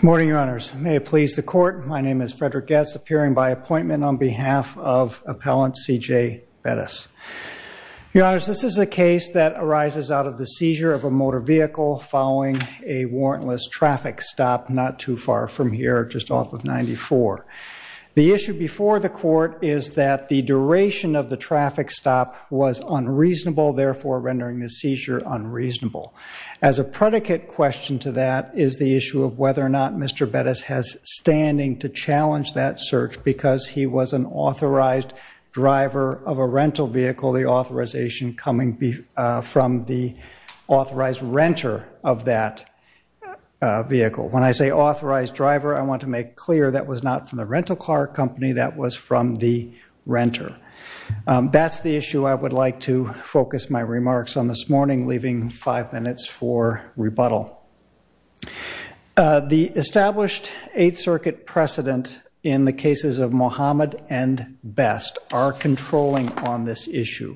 Morning, Your Honors. May it please the Court, my name is Frederick Getz, appearing by appointment on behalf of Appellant CJ Bettis. Your Honors, this is a case that arises out of the seizure of a motor vehicle following a warrantless traffic stop not too far from here, just off of 94. The issue before the Court is that the duration of the traffic stop was unreasonable, therefore rendering the seizure unreasonable. As a predicate question to that is the issue of whether or not Mr. Bettis has standing to challenge that search because he was an authorized driver of a rental vehicle, the authorization coming from the authorized renter of that vehicle. When I say authorized driver, I want to make clear that was not from the rental car company, that was from the renter. That's the issue I would like to focus my remarks on this morning, leaving five minutes for rebuttal. The established Eighth Circuit precedent in the cases of Mohamed and Best are controlling on this issue.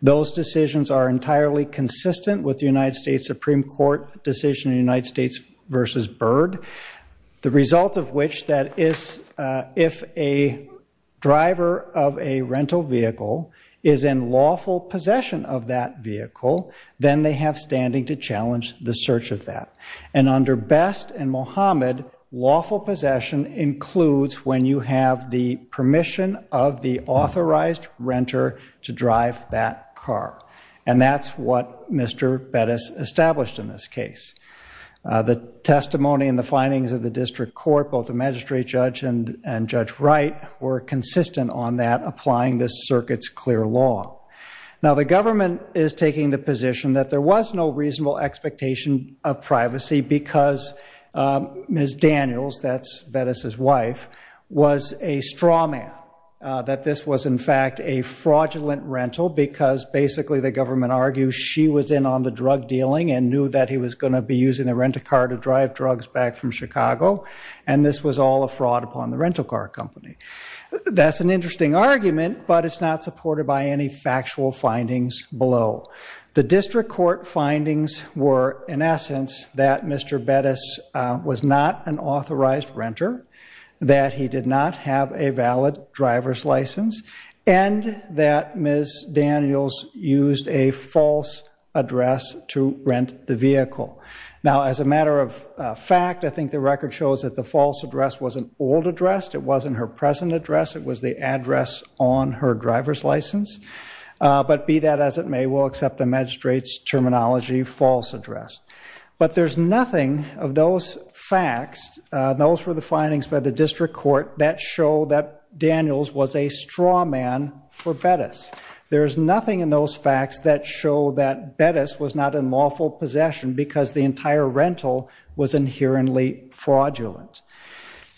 Those decisions are entirely consistent with the United States Supreme Court decision in the United States v. Byrd, the result of which that is if a driver of a rental vehicle is in lawful possession of that vehicle, then they have standing to challenge the search of that. And under Best and Mohamed, lawful possession includes when you have the permission of the authorized renter to drive that car. And that's what Mr. Bettis established in this case. The testimony and the findings of the district court, both the magistrate judge and Judge Wright, were consistent on that applying this circuit's clear law. Now the government is taking the position that there was no reasonable expectation of privacy because Ms. Daniels, that's Bettis' wife, was a straw man, that this was in fact a fraudulent rental because basically the government argued she was in on the drug dealing and knew that he was going to be using the rental car to drive drugs back from Chicago and this was all a fraud upon the rental car company. That's an interesting argument, but it's not supported by any factual findings below. The district court findings were, in essence, that Mr. Bettis was not an authorized renter, that he did not have a valid driver's license, and that Ms. Daniels used a false address to rent the vehicle. Now as a matter of fact, I think the record shows that the false address was an old address, it wasn't her present address, it was the address on her driver's license. But be that as it may, we'll accept the magistrate's terminology, false address. But there's nothing of those facts, those were the findings by the district court, that show that Daniels was a straw man for Bettis. There's nothing in those facts that show that Bettis was not in lawful possession because the entire rental was inherently fraudulent.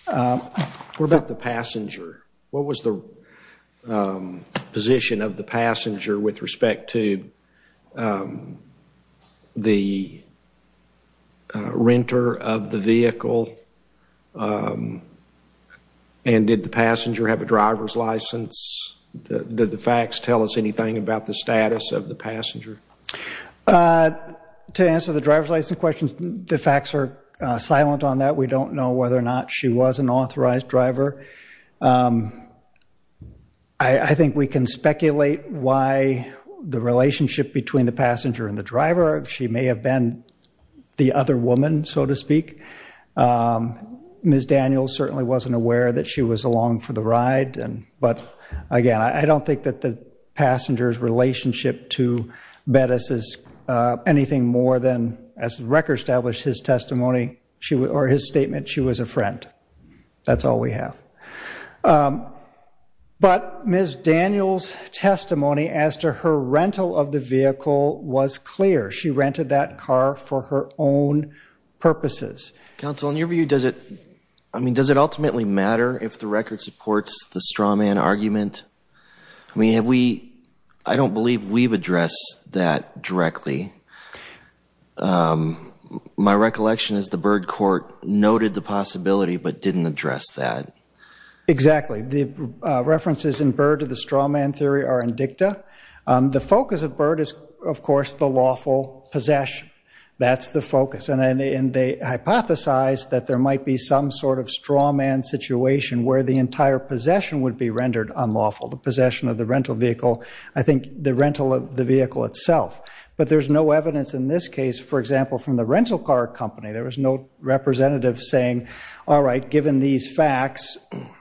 What about the passenger? What was the position of the passenger with respect to the renter of the vehicle? And did the passenger have a driver's license? Did the facts tell us anything about the status of the passenger? To answer the driver's license question, the facts are silent on that. We don't know whether or not she was an authorized driver. I think we can speculate why the relationship between the passenger and the driver, she may have been the other woman, so to speak. Ms. Daniels certainly wasn't aware that she was along for the ride. But again, I don't think that the passenger's relationship to Bettis is anything more than, as the record established his testimony, or his statement, she was a friend. That's all we have. But Ms. Daniels' testimony as to her rental of the vehicle was clear. She rented that car for her own purposes. Counsel, in your view, does it ultimately matter if the record supports the straw man argument? I mean, I don't believe we've addressed that directly. My recollection is the Byrd court noted the possibility but didn't address that. Exactly. The references in Byrd to the straw man theory are indicta. The focus of Byrd is, of course, the lawful possession. That's the focus. And they hypothesized that there might be some sort of straw man situation where the entire possession would be rendered unlawful, the possession of the rental vehicle. I think the rental of the vehicle itself. But there's no evidence in this case, for example, from the rental car company, there was no representative saying, all right, given these facts,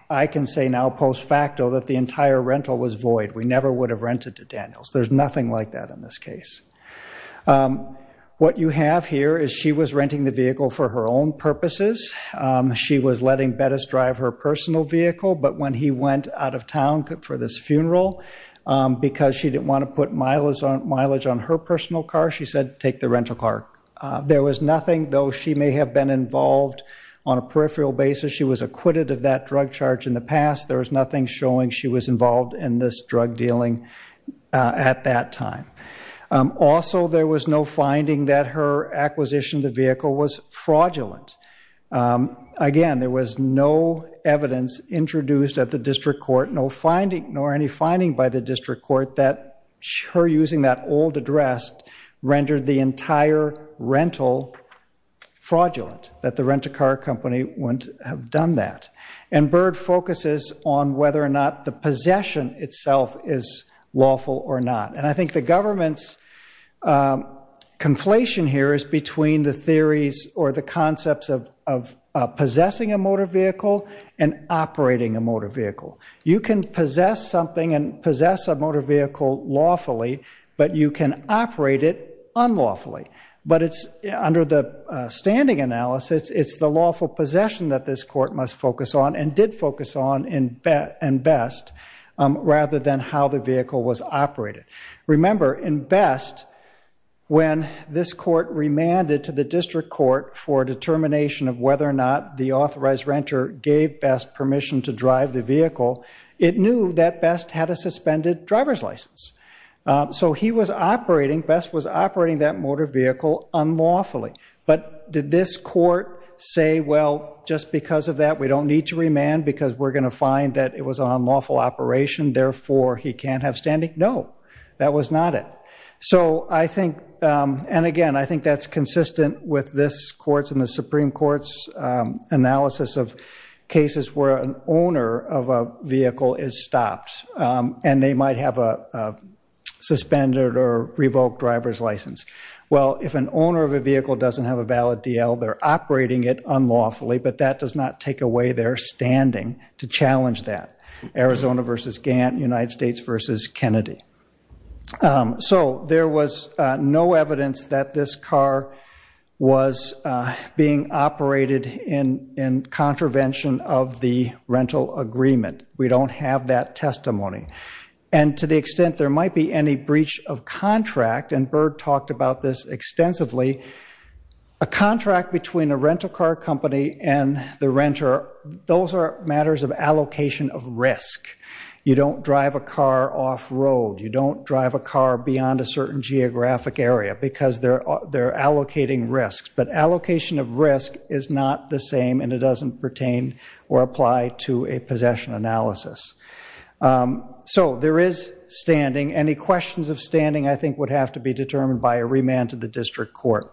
I can say now post facto that the entire rental was void. We never would have rented to Daniels. There's nothing like that in this case. What you have here is she was renting the vehicle for her own purposes. She was letting Bettis drive her personal vehicle. But when he went out of town for this funeral, because she didn't want to put mileage on her personal car, she said take the rental car. There was nothing, though she may have been involved on a peripheral basis, she was acquitted of that drug charge in the past. There was nothing showing she was involved in this drug dealing at that time. Also, there was no finding that her acquisition of the vehicle was fraudulent. Again, there was no evidence introduced at the district court, nor any finding by the district court that her using that old address rendered the entire rental fraudulent, that the rental car company wouldn't have done that. And Byrd focuses on whether or not the possession itself is lawful or not. And I think the government's conflation here is between the theories or the concepts of possessing a motor vehicle and operating a motor vehicle. You can possess something and possess a motor vehicle lawfully, but you can operate it unlawfully. But under the standing analysis, it's the lawful possession that this court must focus on and did focus on in Best rather than how the vehicle was operated. Remember, in Best, when this court remanded to the district court for a determination of whether or not the authorized renter gave Best permission to drive the vehicle, it knew that Best had a suspended driver's license. So he was operating, Best was operating that motor vehicle unlawfully. But did this court say, well, just because of that, we don't need to remand because we're going to find that it was an unlawful operation, therefore he can't have standing? No, that was not it. So I think, and again, I think that's consistent with this court's and the Supreme Court's analysis of cases where an owner of a vehicle is stopped and they might have a suspended or revoked driver's license. Well, if an owner of a vehicle doesn't have a valid DL, they're operating it unlawfully, but that does not take away their standing to challenge that. Arizona versus Gantt, United States versus Kennedy. So there was no evidence that this car was being operated in contravention of the rental agreement. We don't have that testimony. And to the extent there might be any breach of contract, and Berg talked about this extensively, a contract between a rental car company and the renter, those are matters of allocation of risk. You don't drive a car off-road. You don't drive a car beyond a certain geographic area because they're allocating risks. But allocation of risk is not the same and it doesn't pertain or apply to a possession analysis. So there is standing. Any questions of standing I think would have to be determined by a remand to the district court,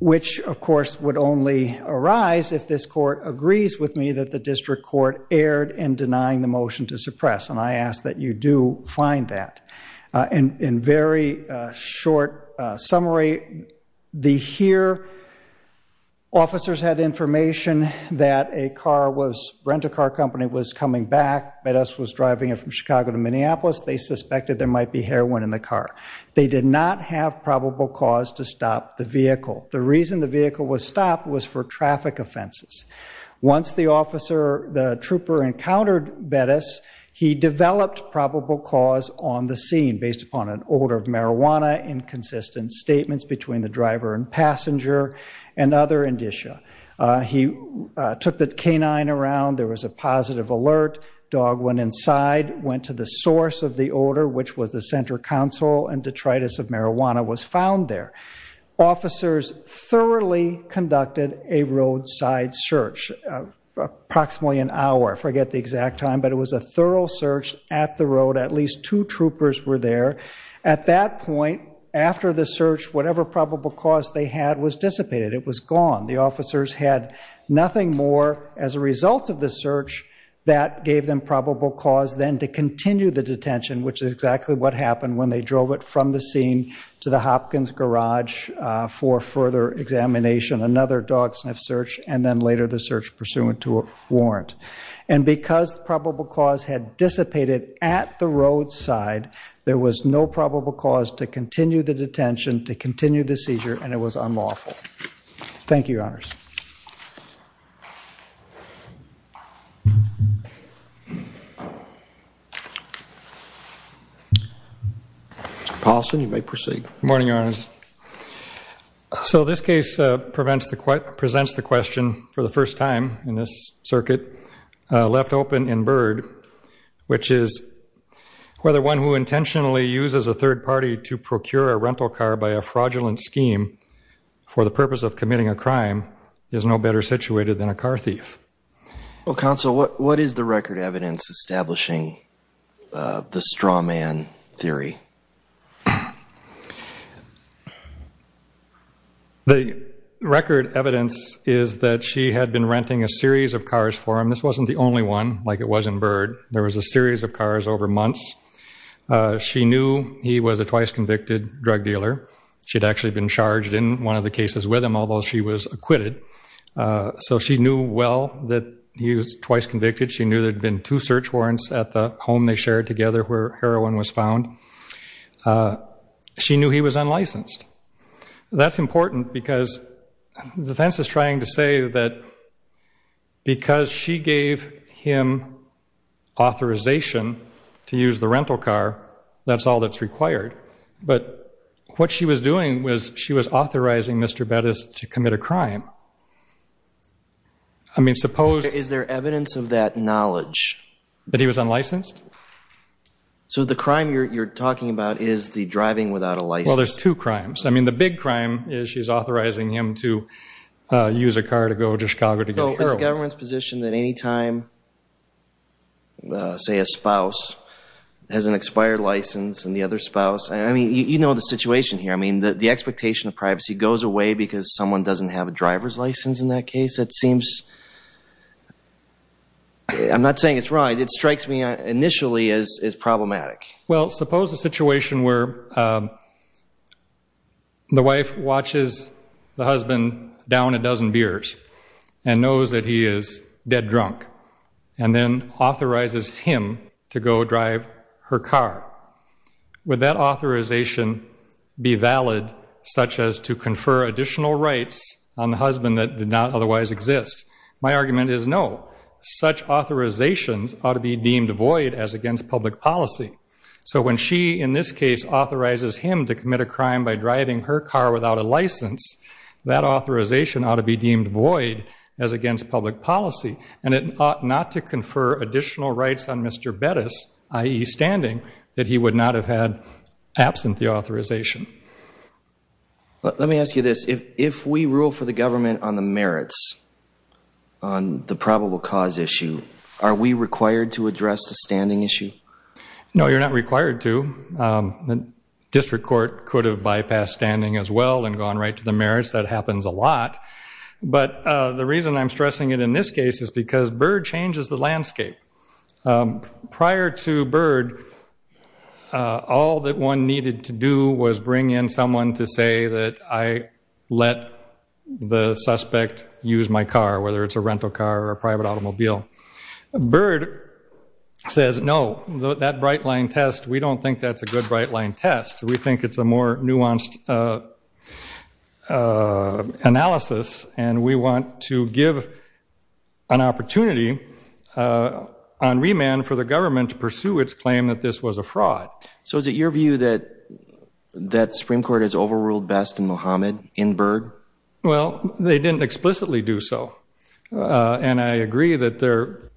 which, of course, would only arise if this court agrees with me that the district court erred in denying the motion to suppress, and I ask that you do find that. In very short summary, the HERE officers had information that a car was, a renter car company was coming back. Bettis was driving it from Chicago to Minneapolis. They suspected there might be heroin in the car. They did not have probable cause to stop the vehicle. The reason the vehicle was stopped was for traffic offenses. Once the officer, the trooper, encountered Bettis, he developed probable cause on the scene based upon an odor of marijuana, inconsistent statements between the driver and passenger, and other indicia. He took the canine around. There was a positive alert. Dog went inside, went to the source of the odor, which was the center console, and detritus of marijuana was found there. Officers thoroughly conducted a roadside search, approximately an hour, I forget the exact time, but it was a thorough search at the road. At least two troopers were there. At that point, after the search, whatever probable cause they had was dissipated. It was gone. The officers had nothing more as a result of the search. That gave them probable cause then to continue the detention, which is exactly what happened when they drove it from the scene to the Hopkins garage for further examination, another dog sniff search, and then later the search pursuant to a warrant. And because probable cause had dissipated at the roadside, there was no probable cause to continue the detention, to continue the seizure, and it was unlawful. Thank you, Your Honors. Mr. Paulson, you may proceed. Good morning, Your Honors. So this case presents the question for the first time in this circuit, left open and bird, which is whether one who intentionally uses a third party to procure a rental car by a fraudulent scheme for the purpose of committing a crime is no better situated than a car thief. Well, counsel, what is the record evidence establishing the straw man theory? The record evidence is that she had been renting a series of cars for him. This wasn't the only one, like it was in bird. There was a series of cars over months. She knew he was a twice convicted drug dealer. She had actually been charged in one of the cases with him, although she was acquitted. So she knew well that he was twice convicted. She knew there had been two search warrants at the home they shared together where heroin was found. She knew he was unlicensed. That's important because defense is trying to say that because she gave him authorization to use the rental car, that's all that's required. But what she was doing was she was authorizing Mr. Bettis to commit a crime. I mean, suppose. Is there evidence of that knowledge? That he was unlicensed? So the crime you're talking about is the driving without a license. Well, there's two crimes. I mean, the big crime is she's authorizing him to use a car to go to Chicago to get heroin. What is the government's position that any time, say, a spouse has an expired license and the other spouse, I mean, you know the situation here. I mean, the expectation of privacy goes away because someone doesn't have a driver's license in that case? That seems, I'm not saying it's right. It strikes me initially as problematic. Well, suppose a situation where the wife watches the husband down a dozen beers and knows that he is dead drunk and then authorizes him to go drive her car. Would that authorization be valid such as to confer additional rights on the husband that did not otherwise exist? My argument is no. Such authorizations ought to be deemed void as against public policy. So when she, in this case, authorizes him to commit a crime by driving her car without a license, that authorization ought to be deemed void as against public policy, and it ought not to confer additional rights on Mr. Bettis, i.e. standing, that he would not have had absent the authorization. Let me ask you this. If we rule for the government on the merits on the probable cause issue, are we required to address the standing issue? No, you're not required to. The district court could have bypassed standing as well and gone right to the merits. That happens a lot. But the reason I'm stressing it in this case is because Byrd changes the landscape. Prior to Byrd, all that one needed to do was bring in someone to say that I let the suspect use my car, whether it's a rental car or a private automobile. Byrd says, no, that bright-line test, we don't think that's a good bright-line test. We think it's a more nuanced analysis, and we want to give an opportunity on remand for the government to pursue its claim that this was a fraud. So is it your view that the Supreme Court has overruled Best and Muhammad in Byrd? Well, they didn't explicitly do so. And I agree that their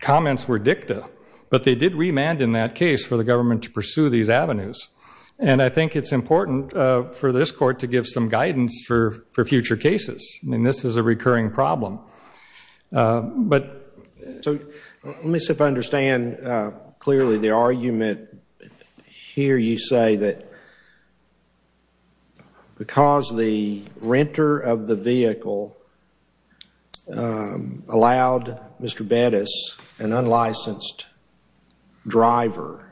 comments were dicta, but they did remand in that case for the government to pursue these avenues. And I think it's important for this court to give some guidance for future cases. I mean, this is a recurring problem. But, so, let me see if I understand clearly the argument. Here you say that because the renter of the vehicle allowed Mr. Bettis, an unlicensed driver,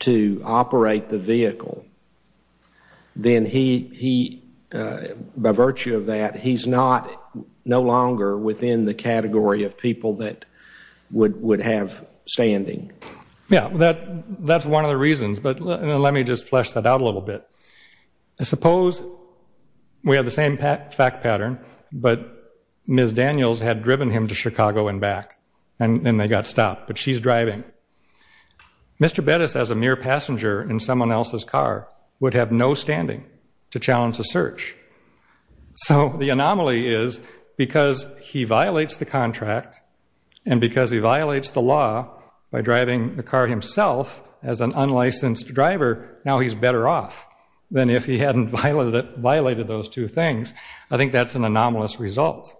to operate the vehicle, then he, by virtue of that, he's no longer within the category of people that would have standing. Yeah, that's one of the reasons. But let me just flesh that out a little bit. Suppose we have the same fact pattern, but Ms. Daniels had driven him to Chicago and back, and then they got stopped, but she's driving. Mr. Bettis, as a mere passenger in someone else's car, would have no standing to challenge the search. So the anomaly is because he violates the contract and because he violates the law by driving the car himself as an unlicensed driver, now he's better off than if he hadn't violated those two things. I think that's an anomalous result.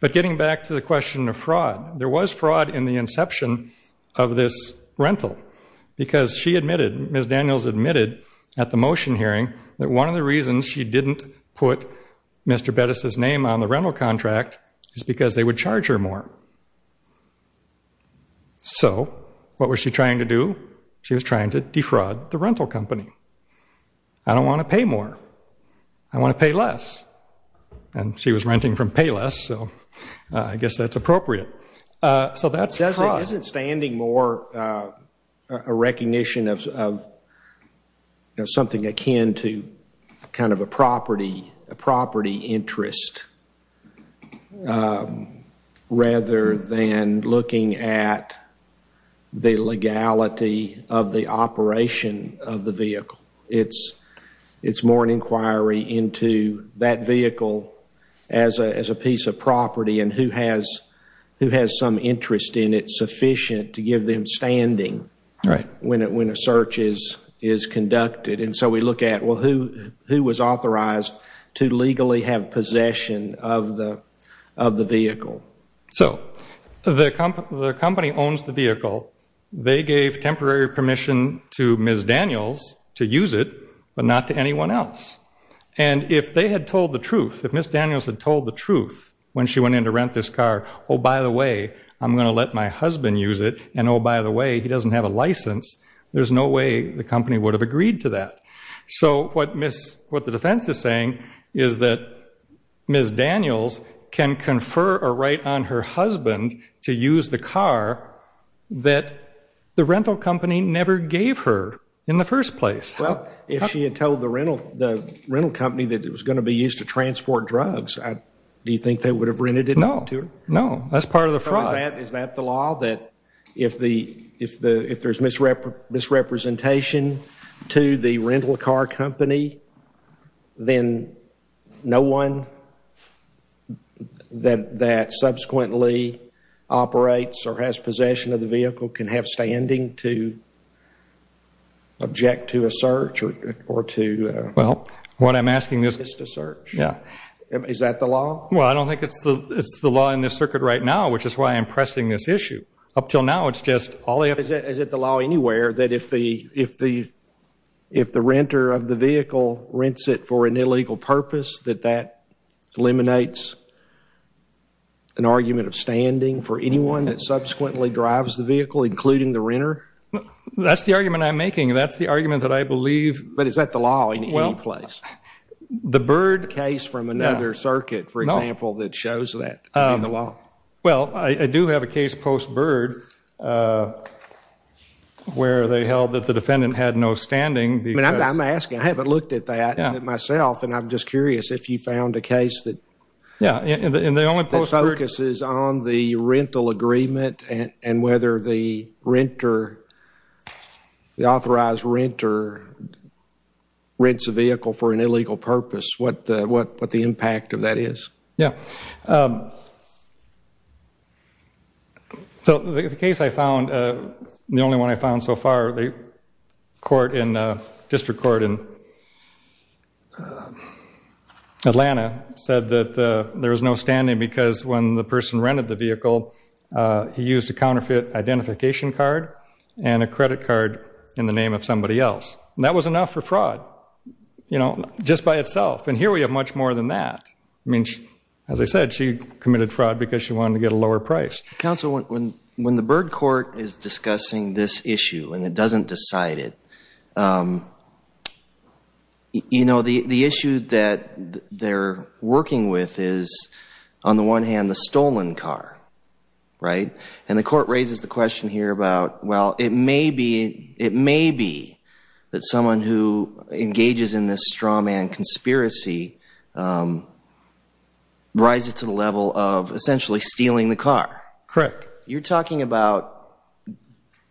But getting back to the question of fraud, there was fraud in the inception of this rental because she admitted, Ms. Daniels admitted at the motion hearing, that one of the reasons she didn't put Mr. Bettis' name on the rental contract is because they would charge her more. So what was she trying to do? She was trying to defraud the rental company. I don't want to pay more. I want to pay less. And she was renting from Payless, so I guess that's appropriate. So that's fraud. Isn't standing more a recognition of something akin to kind of a property interest rather than looking at the legality of the operation of the vehicle? It's more an inquiry into that vehicle as a piece of property and who has some interest in it sufficient to give them standing when a search is conducted. And so we look at, well, who was authorized to legally have possession of the vehicle? So the company owns the vehicle. They gave temporary permission to Ms. Daniels to use it but not to anyone else. And if they had told the truth, if Ms. Daniels had told the truth when she went in to rent this car, oh, by the way, I'm going to let my husband use it, and oh, by the way, he doesn't have a license, there's no way the company would have agreed to that. So what the defense is saying is that Ms. Daniels can confer a right on her husband to use the car that the rental company never gave her in the first place. Well, if she had told the rental company that it was going to be used to transport drugs, do you think they would have rented it to her? No, no, that's part of the fraud. Is that the law, that if there's misrepresentation to the rental car company, then no one that subsequently operates or has possession of the vehicle can have standing to object to a search or to assist a search? Yeah. Is that the law? Well, I don't think it's the law in this circuit right now, which is why I'm pressing this issue. Up until now, it's just all the evidence. Is it the law anywhere that if the renter of the vehicle rents it for an illegal purpose, that that eliminates an argument of standing for anyone that subsequently drives the vehicle, including the renter? That's the argument I'm making. That's the argument that I believe. But is that the law in any place? The Byrd case from another circuit, for example, that shows that in the law. Well, I do have a case post-Byrd where they held that the defendant had no standing. I'm asking. I haven't looked at that myself, and I'm just curious if you found a case that focuses on the rental agreement and whether the authorized renter rents a vehicle for an illegal purpose, what the impact of that is. Yeah. So the case I found, the only one I found so far, the district court in Atlanta said that there was no standing because when the person rented the vehicle, he used a counterfeit identification card and a credit card in the name of somebody else. That was enough for fraud just by itself, and here we have much more than that. I mean, as I said, she committed fraud because she wanted to get a lower price. Counsel, when the Byrd court is discussing this issue and it doesn't decide it, you know, the issue that they're working with is, on the one hand, the stolen car, right? And the court raises the question here about, well, it may be that someone who engages in this straw man conspiracy rises to the level of essentially stealing the car. Correct. You're talking about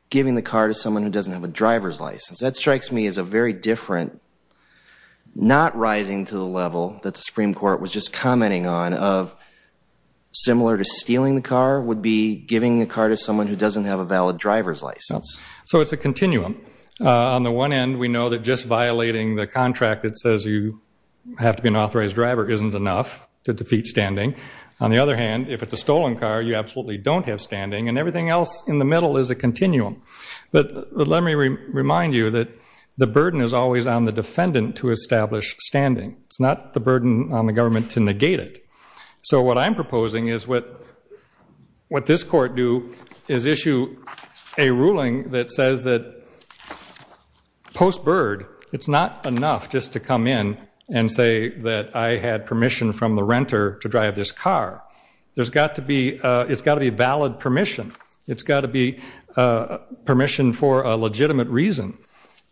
giving the car to someone who doesn't have a driver's license. That strikes me as a very different not rising to the level that the Supreme Court was just commenting on of similar to stealing the car would be giving the car to someone who doesn't have a valid driver's license. So it's a continuum. On the one end, we know that just violating the contract that says you have to be an authorized driver isn't enough to defeat standing. On the other hand, if it's a stolen car, you absolutely don't have standing, and everything else in the middle is a continuum. But let me remind you that the burden is always on the defendant to establish standing. It's not the burden on the government to negate it. So what I'm proposing is what this court do is issue a ruling that says that post Byrd, it's not enough just to come in and say that I had permission from the renter to drive this car. It's got to be valid permission. It's got to be permission for a legitimate reason.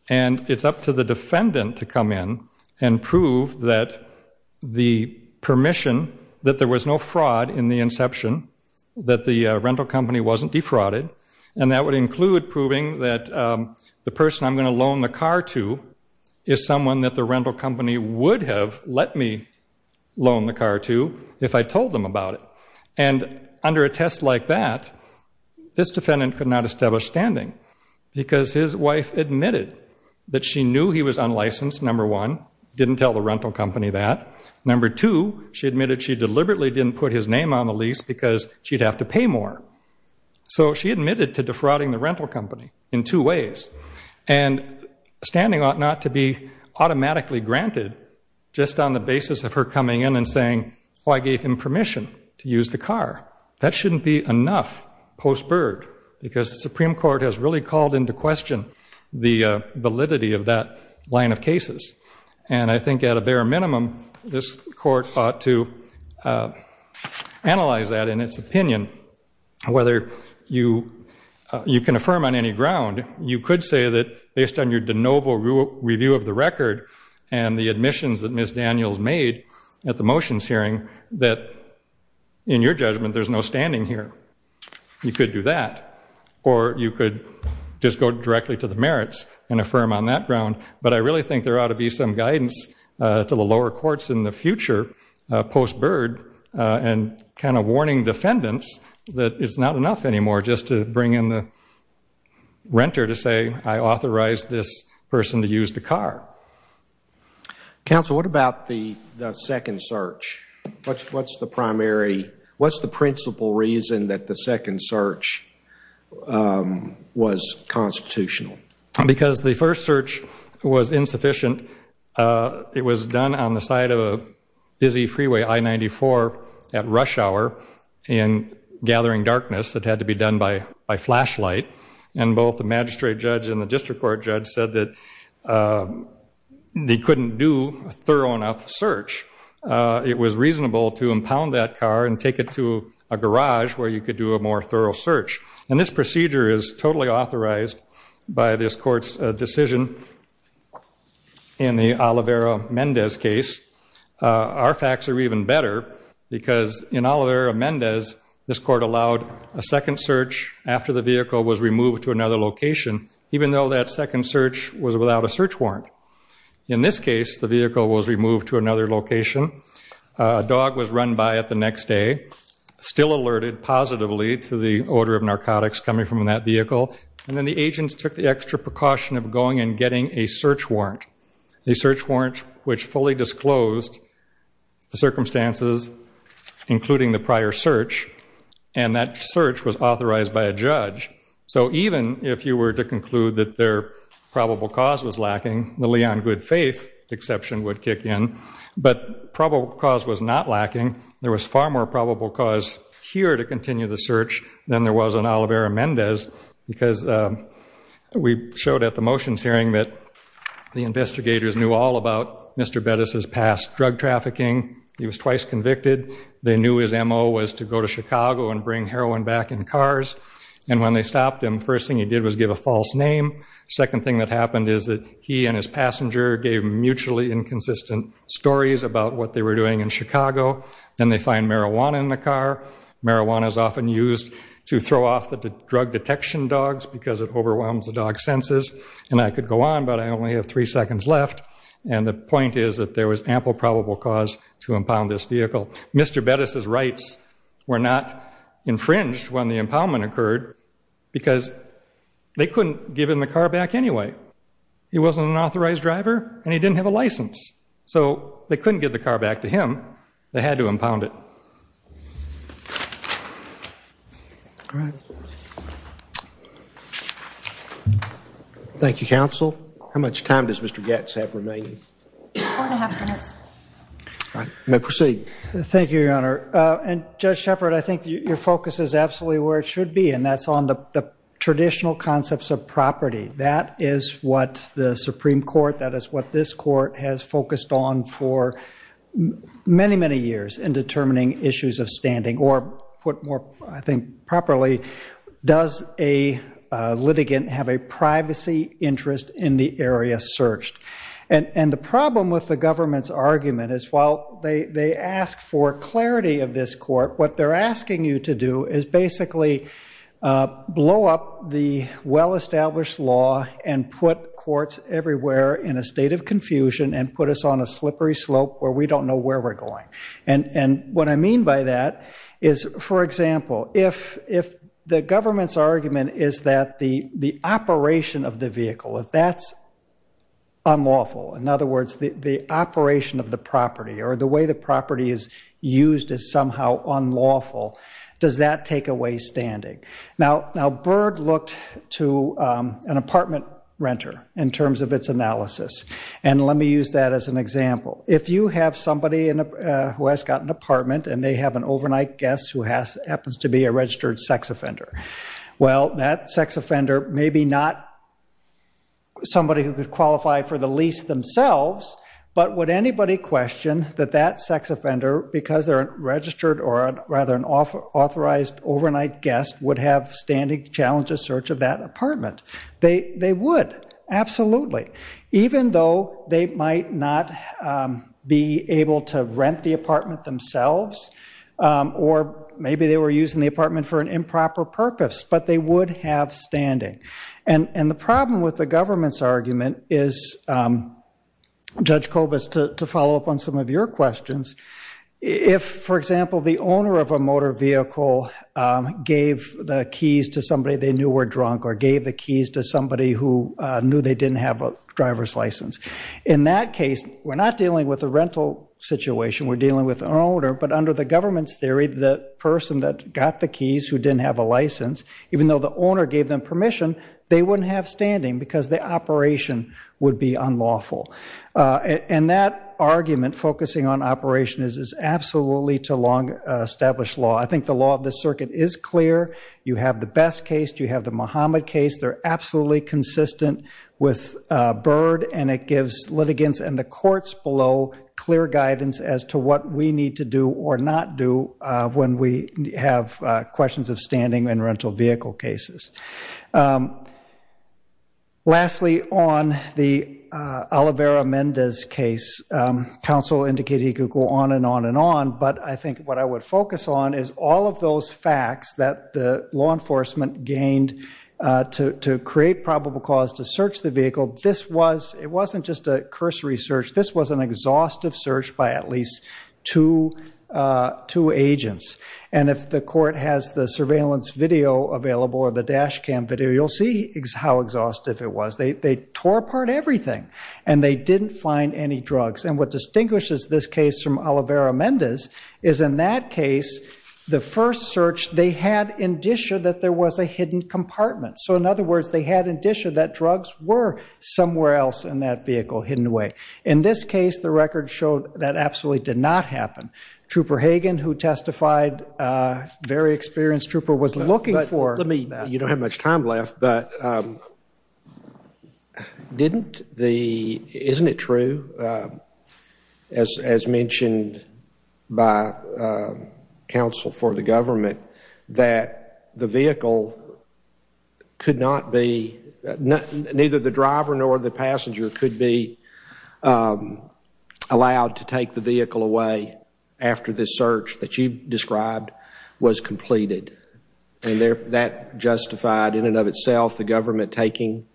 And it's up to the defendant to come in and prove that the permission that there was no fraud in the inception, that the rental company wasn't defrauded, and that would include proving that the person I'm going to loan the car to is someone that the rental company would have let me loan the car to if I told them about it. And under a test like that, this defendant could not establish standing because his wife admitted that she knew he was unlicensed, number one, didn't tell the rental company that. Number two, she admitted she deliberately didn't put his name on the lease because she'd have to pay more. So she admitted to defrauding the rental company in two ways. And standing ought not to be automatically granted just on the basis of her coming in and saying, well, I gave him permission to use the car. That shouldn't be enough post bird because the Supreme Court has really called into question the validity of that line of cases. And I think at a bare minimum, this court ought to analyze that in its opinion, whether you can affirm on any ground. You could say that based on your de novo review of the record and the admissions that Miss Daniels made at the motions hearing that in your judgment, there's no standing here. You could do that, or you could just go directly to the merits and affirm on that ground. But I really think there ought to be some guidance to the lower courts in the future post bird and kind of warning defendants that it's not enough anymore just to bring in the renter to say, I authorized this person to use the car. Counsel, what about the second search? What's the primary? What's the principal reason that the second search was constitutional? Because the first search was insufficient. It was done on the side of a busy freeway I-94 at rush hour and gathering darkness that had to be done by flashlight. And both the magistrate judge and the district court judge said that they couldn't do a thorough enough search. It was reasonable to impound that car and take it to a garage where you could do a more thorough search. And this procedure is totally authorized by this court's decision in the Oliveira-Mendez case. Our facts are even better because in Oliveira-Mendez, this court allowed a second search after the vehicle was removed to another location, even though that second search was without a search warrant. In this case, the vehicle was removed to another location. A dog was run by it the next day, still alerted positively to the odor of narcotics coming from that vehicle. And then the agents took the extra precaution of going and getting a search warrant, a search warrant which fully disclosed the circumstances, including the prior search. And that search was authorized by a judge. So even if you were to conclude that their probable cause was lacking, the Leon Goodfaith exception would kick in. But probable cause was not lacking. There was far more probable cause here to continue the search than there was on Oliveira-Mendez because we showed at the motions hearing that the investigators knew all about Mr. Bettis' past drug trafficking. He was twice convicted. They knew his M.O. was to go to Chicago and bring heroin back in cars. And when they stopped him, first thing he did was give a false name. Second thing that happened is that he and his passenger gave mutually inconsistent stories about what they were doing in Chicago. Then they find marijuana in the car. Marijuana is often used to throw off the drug detection dogs because it overwhelms the dog's senses. And I could go on, but I only have three seconds left. And the point is that there was ample probable cause to impound this vehicle. Mr. Bettis' rights were not infringed when the impoundment occurred because they couldn't give him the car back anyway. He wasn't an authorized driver, and he didn't have a license. So they couldn't give the car back to him. They had to impound it. Thank you, counsel. How much time does Mr. Goetz have remaining? You may proceed. Thank you, Your Honor. And Judge Shepard, I think your focus is absolutely where it should be, and that's on the traditional concepts of property. That is what the Supreme Court, that is what this Court has focused on for many, many years in determining issues of standing, or put more, I think, properly, does a litigant have a privacy interest in the area searched? And the problem with the government's argument is, while they ask for clarity of this Court, what they're asking you to do is basically blow up the well-established law and put courts everywhere in a state of confusion and put us on a slippery slope where we don't know where we're going. And what I mean by that is, for example, if the government's argument is that the operation of the vehicle, if that's unlawful, in other words, the operation of the property or the way the property is used is somehow unlawful, does that take away standing? Now, Byrd looked to an apartment renter in terms of its analysis, and let me use that as an example. If you have somebody who has got an apartment and they have an overnight guest who happens to be a registered sex offender, well, that sex offender may be not somebody who could qualify for the lease themselves, but would anybody question that that sex offender, because they're a registered or rather an authorized overnight guest, would have standing to challenge a search of that apartment? They would. Absolutely. Even though they might not be able to rent the apartment themselves or maybe they were using the apartment for an improper purpose, but they would have standing. And the problem with the government's argument is, Judge Kobus, to follow up on some of your questions, if, for example, the owner of a motor vehicle gave the keys to somebody they knew were drunk or gave the keys to somebody who knew they didn't have a driver's license, in that case we're not dealing with a rental situation, we're dealing with an owner, but under the government's theory, the person that got the keys who didn't have a license, even though the owner gave them permission, they wouldn't have standing because the operation would be unlawful. And that argument focusing on operation is absolutely too long an established law. I think the law of the circuit is clear. You have the Best case, you have the Muhammad case. They're absolutely consistent with Byrd, and it gives litigants and the courts below clear guidance as to what we need to do or not do when we have questions of standing in rental vehicle cases. Lastly, on the Olivera-Mendez case, counsel indicated he could go on and on and on, but I think what I would focus on is all of those facts that the law enforcement gained to create probable cause to search the vehicle. It wasn't just a cursory search. This was an exhaustive search by at least two agents. And if the court has the surveillance video available or the dash cam video, you'll see how exhaustive it was. They tore apart everything, and they didn't find any drugs. And what distinguishes this case from Olivera-Mendez is, in that case, the first search they had indicia that there was a hidden compartment. So, in other words, they had indicia that drugs were somewhere else in that vehicle hidden away. In this case, the record showed that absolutely did not happen. Trooper Hagen, who testified, very experienced trooper, was looking for... You don't have much time left, but isn't it true, as mentioned by counsel for the government, that the vehicle could not be... Neither the driver nor the passenger could be allowed to take the vehicle away after this search that you described was completed. And that justified, in and of itself, the government taking,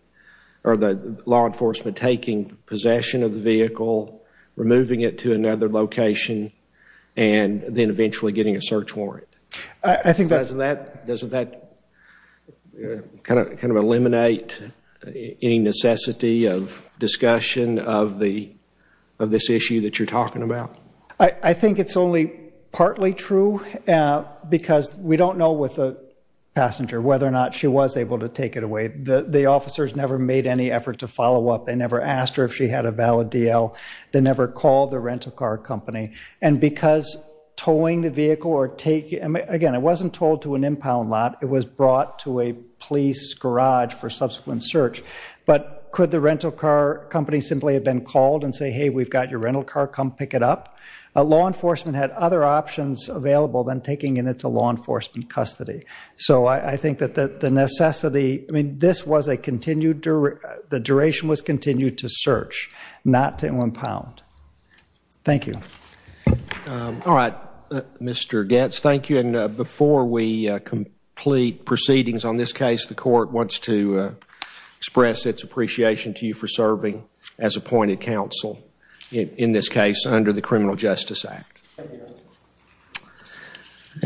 or the law enforcement taking possession of the vehicle, removing it to another location, and then eventually getting a search warrant? Doesn't that kind of eliminate any necessity of discussion of this issue that you're talking about? I think it's only partly true, because we don't know with the passenger whether or not she was able to take it away. The officers never made any effort to follow up. They never asked her if she had a valid DL. They never called the rental car company. And because towing the vehicle or taking... Again, it wasn't towed to an impound lot. It was brought to a police garage for subsequent search. But could the rental car company simply have been called and say, hey, we've got your rental car, come pick it up? Law enforcement had other options available than taking it into law enforcement custody. So I think that the necessity... The duration was continued to search, not to impound. Thank you. All right, Mr. Goetz, thank you. And before we complete proceedings on this case, the court wants to express its appreciation to you for serving as appointed counsel, in this case, under the Criminal Justice Act.